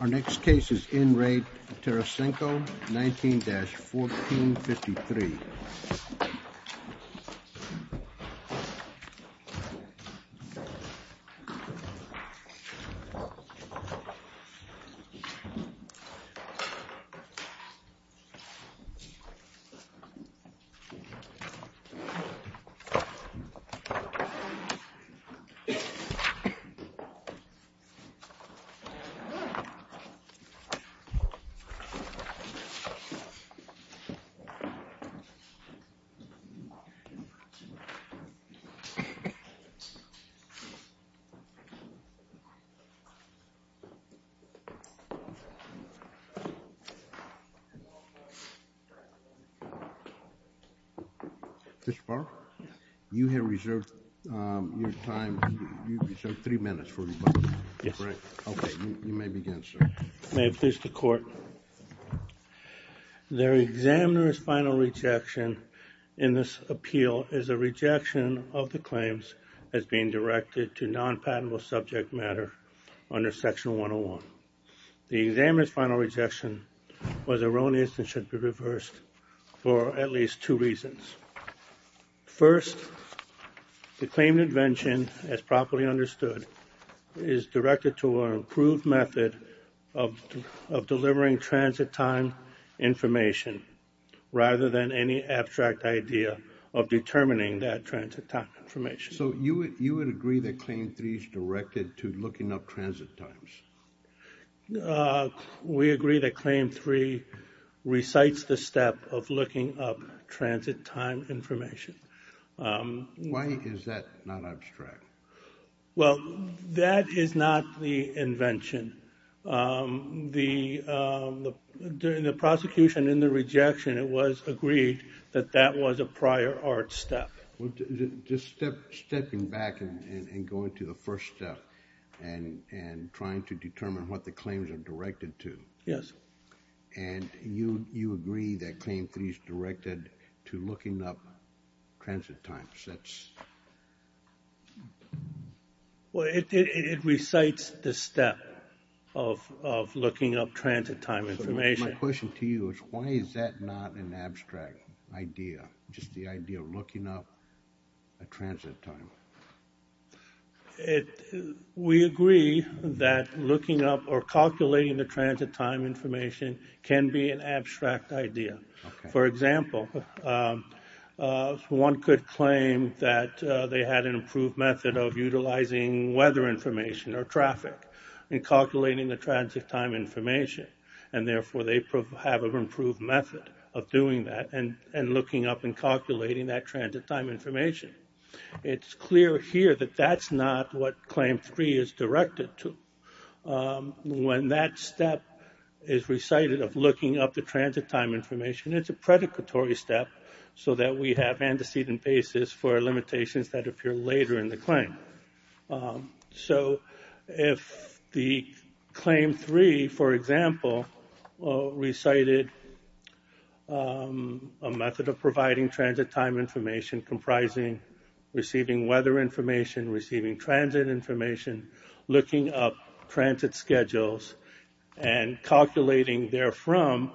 Our next case is in Re Tarasenko, 19-1453. Mr. Farr, you have reserved your time, you've reserved three minutes for rebuttal. You may begin, sir. May it please the court. The examiner's final rejection in this appeal is a rejection of the claims as being directed to non-patentable subject matter under Section 101. The examiner's final rejection was erroneous and should be reversed for at least two reasons. First, the claimed invention, as properly understood, is directed to an improved method of delivering transit time information rather than any abstract idea of determining that transit time information. So you would agree that Claim 3 is directed to looking up transit times? We agree that Claim 3 recites the step of looking up transit time information. Why is that not abstract? Well, that is not the invention. During the prosecution and the rejection, it was agreed that that was a prior art step. Just stepping back and going to the first step and trying to determine what the claims are directed to. Yes. And you agree that Claim 3 is directed to looking up transit times? Well, it recites the step of looking up transit time information. My question to you is why is that not an abstract idea? Just the idea of looking up a transit time. We agree that looking up or calculating the transit time information can be an abstract idea. For example, one could claim that they had an improved method of utilizing weather information or traffic in calculating the transit time information. And therefore, they have an improved method of doing that and looking up and calculating that transit time information. It's clear here that that's not what Claim 3 is directed to. When that step is recited of looking up the transit time information, it's a predictory step so that we have antecedent basis for limitations that appear later in the claim. So if the Claim 3, for example, recited a method of providing transit time information comprising receiving weather information, receiving transit information, looking up transit schedules, and calculating therefrom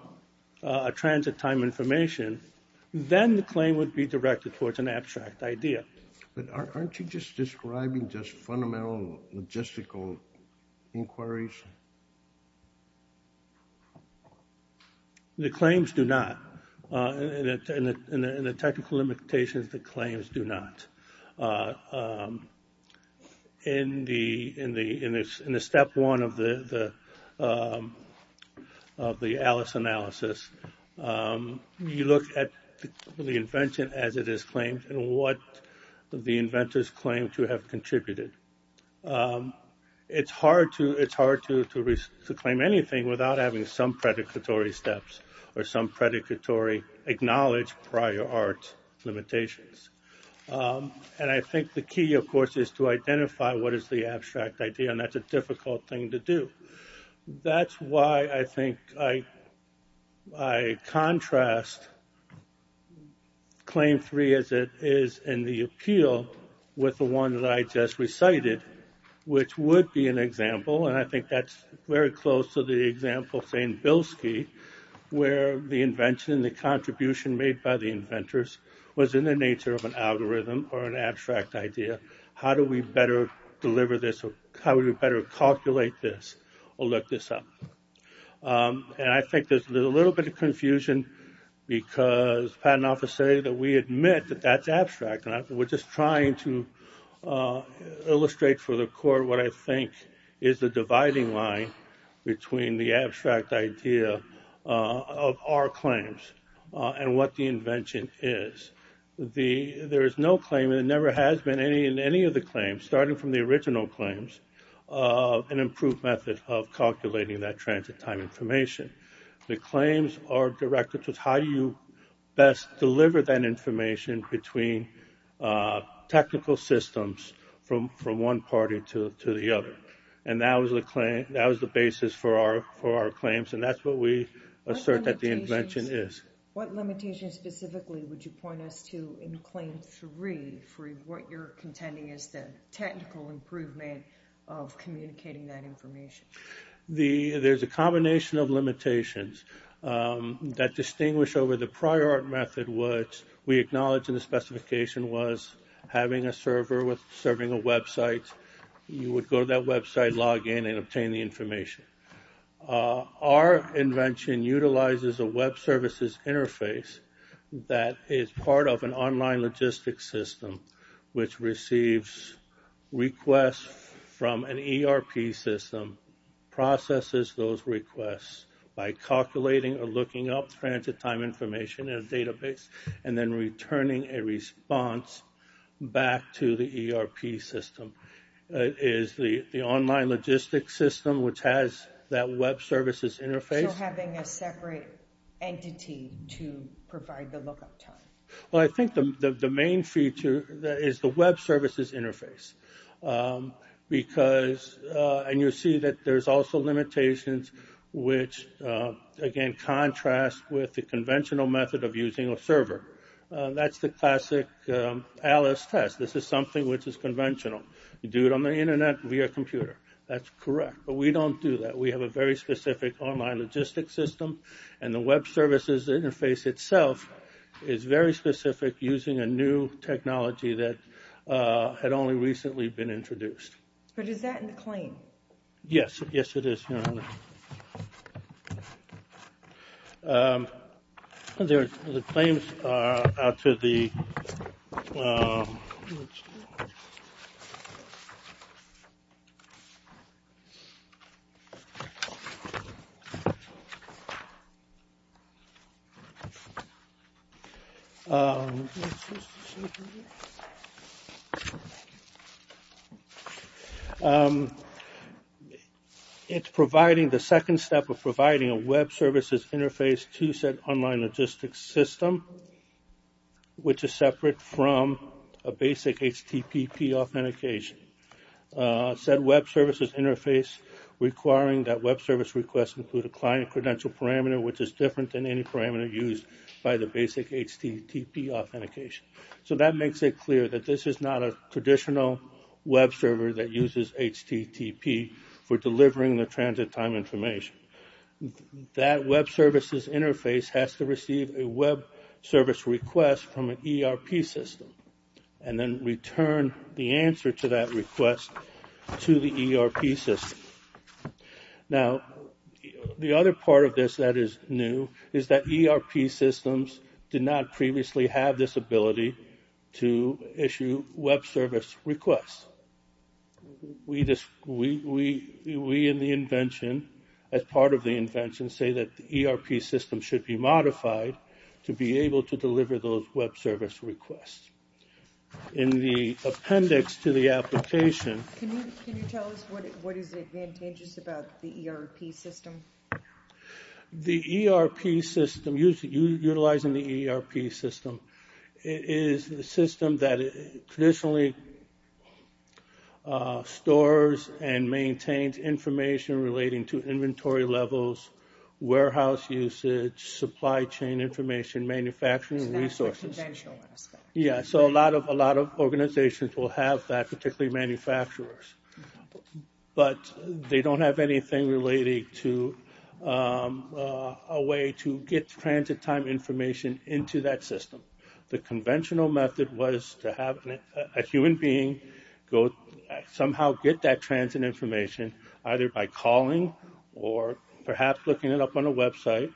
a transit time information, then the claim would be directed towards an abstract idea. But aren't you just describing just fundamental logistical inquiries? The claims do not. In the technical limitations, the claims do not. In the Step 1 of the ALICE analysis, you look at the invention as it is claimed and what the inventors claim to have contributed. It's hard to claim anything without having some predictory steps or some predictory acknowledged prior art limitations. And I think the key, of course, is to identify what is the abstract idea, and that's a difficult thing to do. That's why I think I contrast Claim 3 as it is in the appeal with the one that I just recited, which would be an example, and I think that's very close to the example of St. Bilski, where the invention and the contribution made by the inventors was in the nature of an algorithm or an abstract idea. How do we better calculate this or look this up? And I think there's a little bit of confusion because patent officers say that we admit that that's abstract. We're just trying to illustrate for the court what I think is the dividing line between the abstract idea of our claims and what the invention is. There is no claim, and there never has been in any of the claims, starting from the original claims, an improved method of calculating that transit time information. The claims are directed to how you best deliver that information between technical systems from one party to the other. And that was the basis for our claims, and that's what we assert that the invention is. What limitations specifically would you point us to in Claim 3 for what you're contending is the technical improvement of communicating that information? There's a combination of limitations that distinguish over the prior art method, which we acknowledge in the specification was having a server serving a website. You would go to that website, log in, and obtain the information. Our invention utilizes a web services interface that is part of an online logistics system, which receives requests from an ERP system, processes those requests by calculating or looking up transit time information in a database, and then returning a response back to the ERP system. It is the online logistics system, which has that web services interface. So having a separate entity to provide the lookup time? Well, I think the main feature is the web services interface. And you'll see that there's also limitations which, again, contrast with the conventional method of using a server. That's the classic Alice test. This is something which is conventional. You do it on the Internet via computer. That's correct. But we don't do that. We have a very specific online logistics system. And the web services interface itself is very specific, using a new technology that had only recently been introduced. But is that in the claim? Yes. Yes, it is. The claims are out to the ‑‑ It's providing the second step of providing a web services interface to said online logistics system, which is separate from a basic HTTP authentication. Said web services interface requiring that web service requests include a client credential parameter, which is different than any parameter used by the basic HTTP authentication. So that makes it clear that this is not a traditional web server that uses HTTP for delivering the transit time information. That web services interface has to receive a web service request from an ERP system and then return the answer to that request to the ERP system. Now, the other part of this that is new is that ERP systems did not previously have this ability to issue web service requests. We in the invention, as part of the invention, say that the ERP system should be modified to be able to deliver those web service requests. In the appendix to the application. Can you tell us what is advantageous about the ERP system? The ERP system, utilizing the ERP system, is a system that traditionally stores and maintains information relating to inventory levels, warehouse usage, supply chain information, manufacturing resources. Yeah, so a lot of a lot of organizations will have that, particularly manufacturers. But they don't have anything related to a way to get transit time information into that system. The conventional method was to have a human being go somehow get that transit information, either by calling or perhaps looking it up on a website,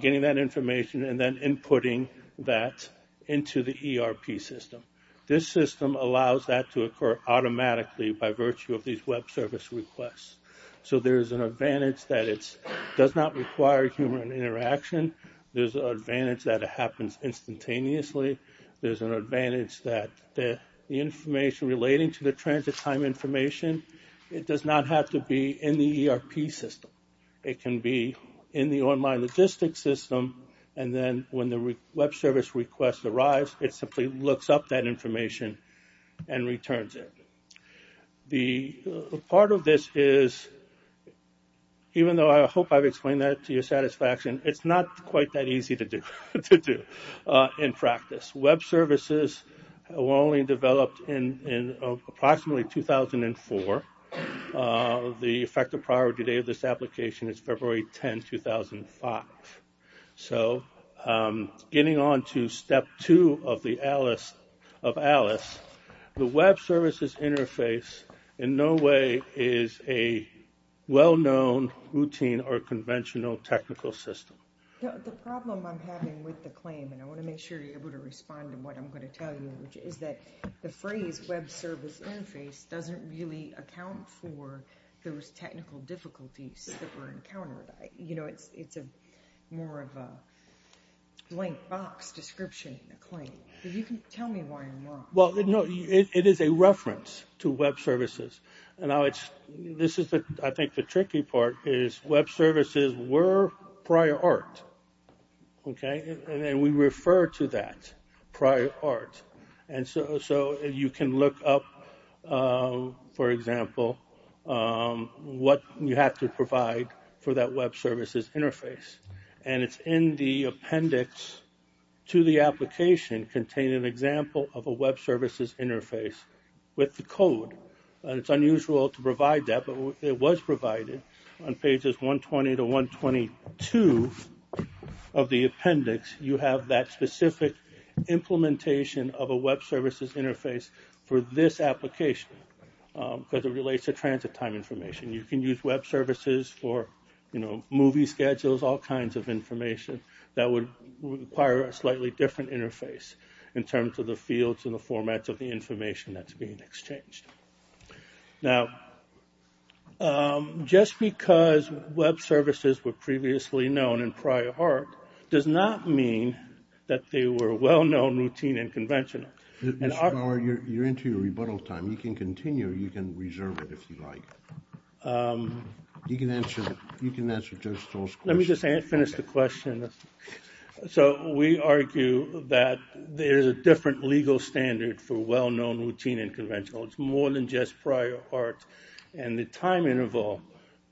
getting that information and then inputting that into the ERP system. This system allows that to occur automatically by virtue of these web service requests. So there is an advantage that it does not require human interaction. There's an advantage that it happens instantaneously. There's an advantage that the information relating to the transit time information, it does not have to be in the ERP system. It can be in the online logistics system. And then when the web service request arrives, it simply looks up that information and returns it. The part of this is, even though I hope I've explained that to your satisfaction, it's not quite that easy to do in practice. Web services were only developed in approximately 2004. The effective priority date of this application is February 10, 2005. So getting on to step two of ALICE, the web services interface in no way is a well-known routine or conventional technical system. The problem I'm having with the claim, and I want to make sure you're able to respond to what I'm going to tell you, is that the phrase web service interface doesn't really account for those technical difficulties that were encountered. You know, it's more of a blank box description, a claim. If you can tell me why I'm wrong. Well, no, it is a reference to web services. And this is, I think, the tricky part is web services were prior art. And we refer to that prior art. And so you can look up, for example, what you have to provide for that web services interface. And it's in the appendix to the application containing an example of a web services interface with the code. It's unusual to provide that, but it was provided on pages 120 to 122 of the appendix. You have that specific implementation of a web services interface for this application, because it relates to transit time information. You can use web services for, you know, movie schedules, all kinds of information. That would require a slightly different interface in terms of the fields and the formats of the information that's being exchanged. Now, just because web services were previously known in prior art does not mean that they were well-known, routine, and conventional. Mr. Bauer, you're into your rebuttal time. You can continue, or you can reserve it if you like. You can answer Judge Stoll's question. Let me just finish the question. So we argue that there's a different legal standard for well-known, routine, and conventional. It's more than just prior art. And the time interval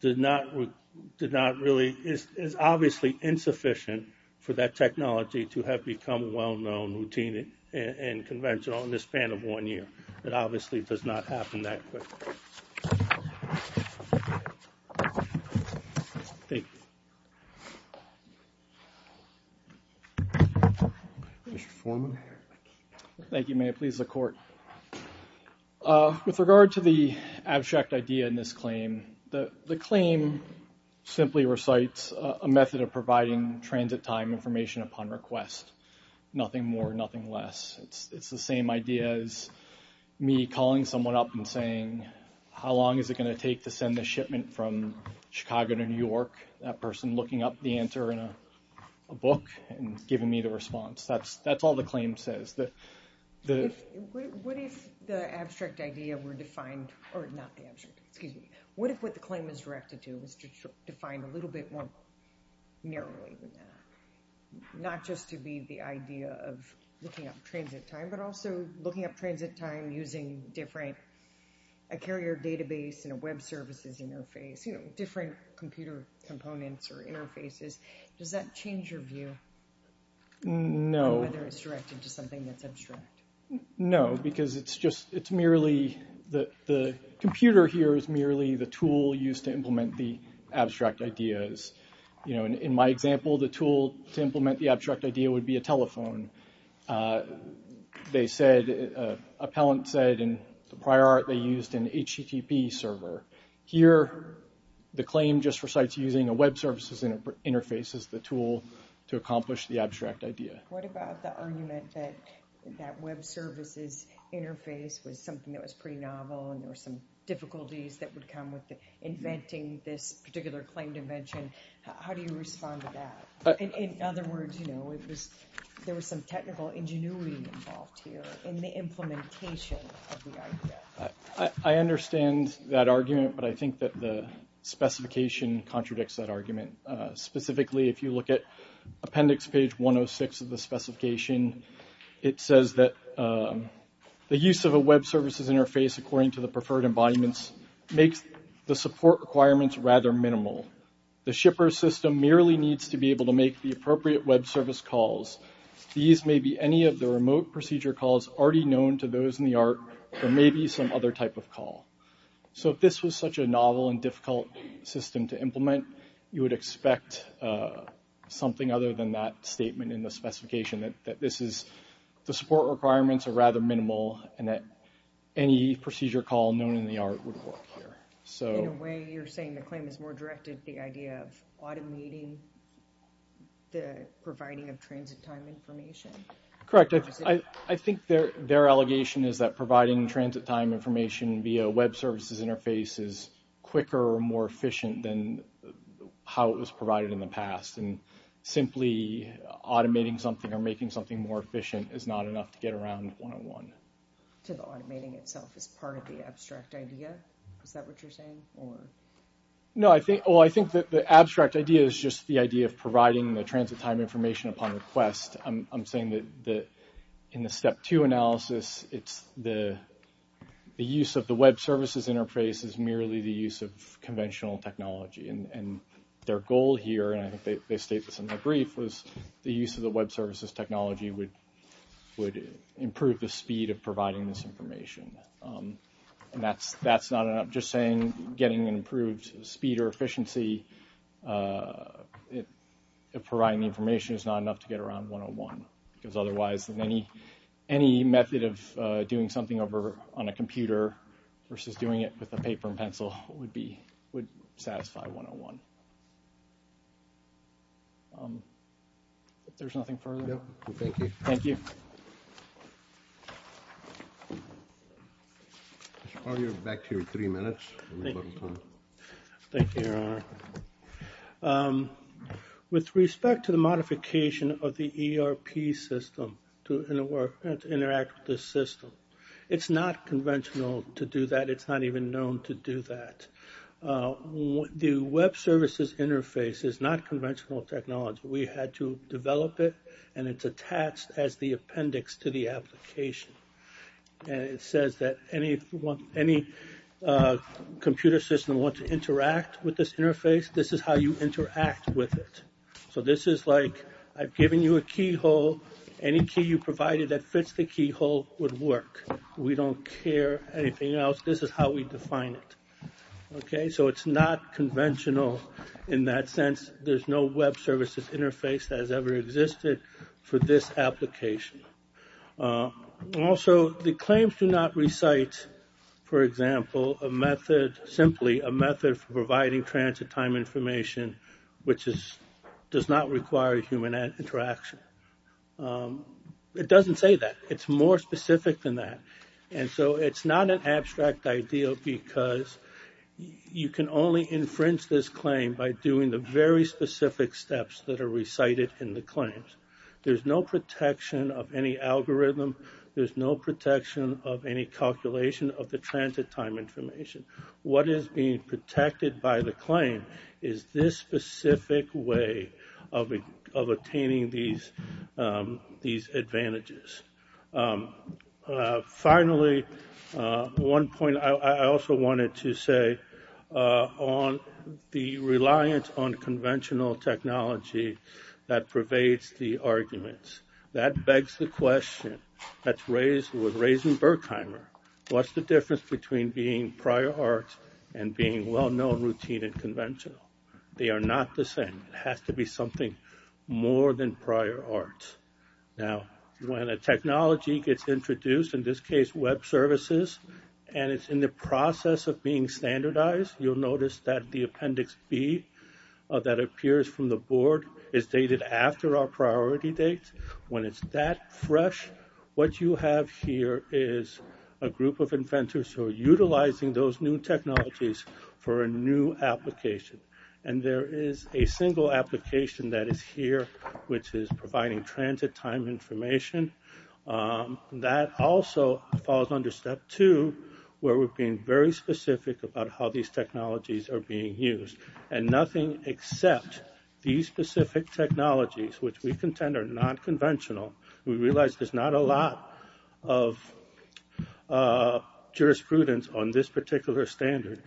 is obviously insufficient for that technology to have become well-known, routine, and conventional in the span of one year. It obviously does not happen that quick. Thank you. Mr. Foreman. Thank you, Mayor. Please, the Court. With regard to the abstract idea in this claim, the claim simply recites a method of providing transit time information upon request. Nothing more, nothing less. It's the same idea as me calling someone up and saying, how long is it going to take to send a shipment from Chicago to New York? That person looking up the answer in a book and giving me the response. That's all the claim says. What if the abstract idea were defined – or not the abstract, excuse me. What if what the claim is directed to is defined a little bit more narrowly than that? Not just to be the idea of looking up transit time, but also looking up transit time using different – a carrier database and a web services interface, different computer components or interfaces. Does that change your view? No. Whether it's directed to something that's abstract. No, because it's merely – the computer here is merely the tool used to implement the abstract ideas. In my example, the tool to implement the abstract idea would be a telephone. They said – appellant said in the prior art they used an HTTP server. Here, the claim just recites using a web services interface as the tool to accomplish the abstract idea. What about the argument that that web services interface was something that was pretty novel and there were some difficulties that would come with inventing this particular claim dimension? How do you respond to that? In other words, there was some technical ingenuity involved here in the implementation of the idea. I understand that argument, but I think that the specification contradicts that argument. Specifically, if you look at appendix page 106 of the specification, it says that the use of a web services interface according to the preferred embodiments makes the support requirements rather minimal. The shipper system merely needs to be able to make the appropriate web service calls. These may be any of the remote procedure calls already known to those in the art, or maybe some other type of call. So if this was such a novel and difficult system to implement, you would expect something other than that statement in the specification, that the support requirements are rather minimal, and that any procedure call known in the art would work here. In a way, you're saying the claim is more directed to the idea of automating the providing of transit time information? Correct. I think their allegation is that providing transit time information via a web services interface is quicker and more efficient than how it was provided in the past, and simply automating something or making something more efficient is not enough to get around 101. So the automating itself is part of the abstract idea? Is that what you're saying? No, I think the abstract idea is just the idea of providing the transit time information upon request. I'm saying that in the step two analysis, the use of the web services interface is merely the use of conventional technology, and their goal here, and I think they state this in their brief, was the use of the web services technology would improve the speed of providing this information. And that's not enough. Just saying getting an improved speed or efficiency of providing information is not enough to get around 101, because otherwise, any method of doing something over on a computer versus doing it with a paper and pencil would satisfy 101. If there's nothing further? No, thank you. Thank you. Back to you in three minutes. Thank you, Your Honor. With respect to the modification of the ERP system to interact with this system, it's not conventional to do that. It's not even known to do that. The web services interface is not conventional technology. We had to develop it, and it's attached as the appendix to the application. And it says that any computer system wants to interact with this interface, this is how you interact with it. So this is like I've given you a keyhole. Any key you provided that fits the keyhole would work. We don't care anything else. This is how we define it. Okay, so it's not conventional in that sense. There's no web services interface that has ever existed for this application. Also, the claims do not recite, for example, a method, simply a method for providing transit time information, which does not require human interaction. It doesn't say that. It's more specific than that. And so it's not an abstract idea because you can only infringe this claim by doing the very specific steps that are recited in the claims. There's no protection of any algorithm. There's no protection of any calculation of the transit time information. What is being protected by the claim is this specific way of attaining these advantages. Finally, one point I also wanted to say on the reliance on conventional technology that pervades the arguments, that begs the question that's raised with Raising Berkheimer, what's the difference between being prior art and being well-known, routine, and conventional? They are not the same. It has to be something more than prior art. Now, when a technology gets introduced, in this case web services, and it's in the process of being standardized, you'll notice that the appendix B that appears from the board is dated after our priority date. When it's that fresh, what you have here is a group of inventors who are utilizing those new technologies for a new application. And there is a single application that is here, which is providing transit time information. That also falls under step two, where we're being very specific about how these technologies are being used, and nothing except these specific technologies, which we contend are not conventional. We realize there's not a lot of jurisprudence on this particular standard,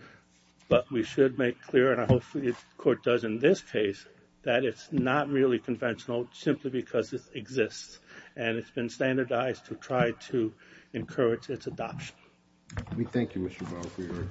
but we should make clear, and I hope the court does in this case, that it's not really conventional simply because it exists, and it's been standardized to try to encourage its adoption. We thank you, Mr. Bowe, for your time.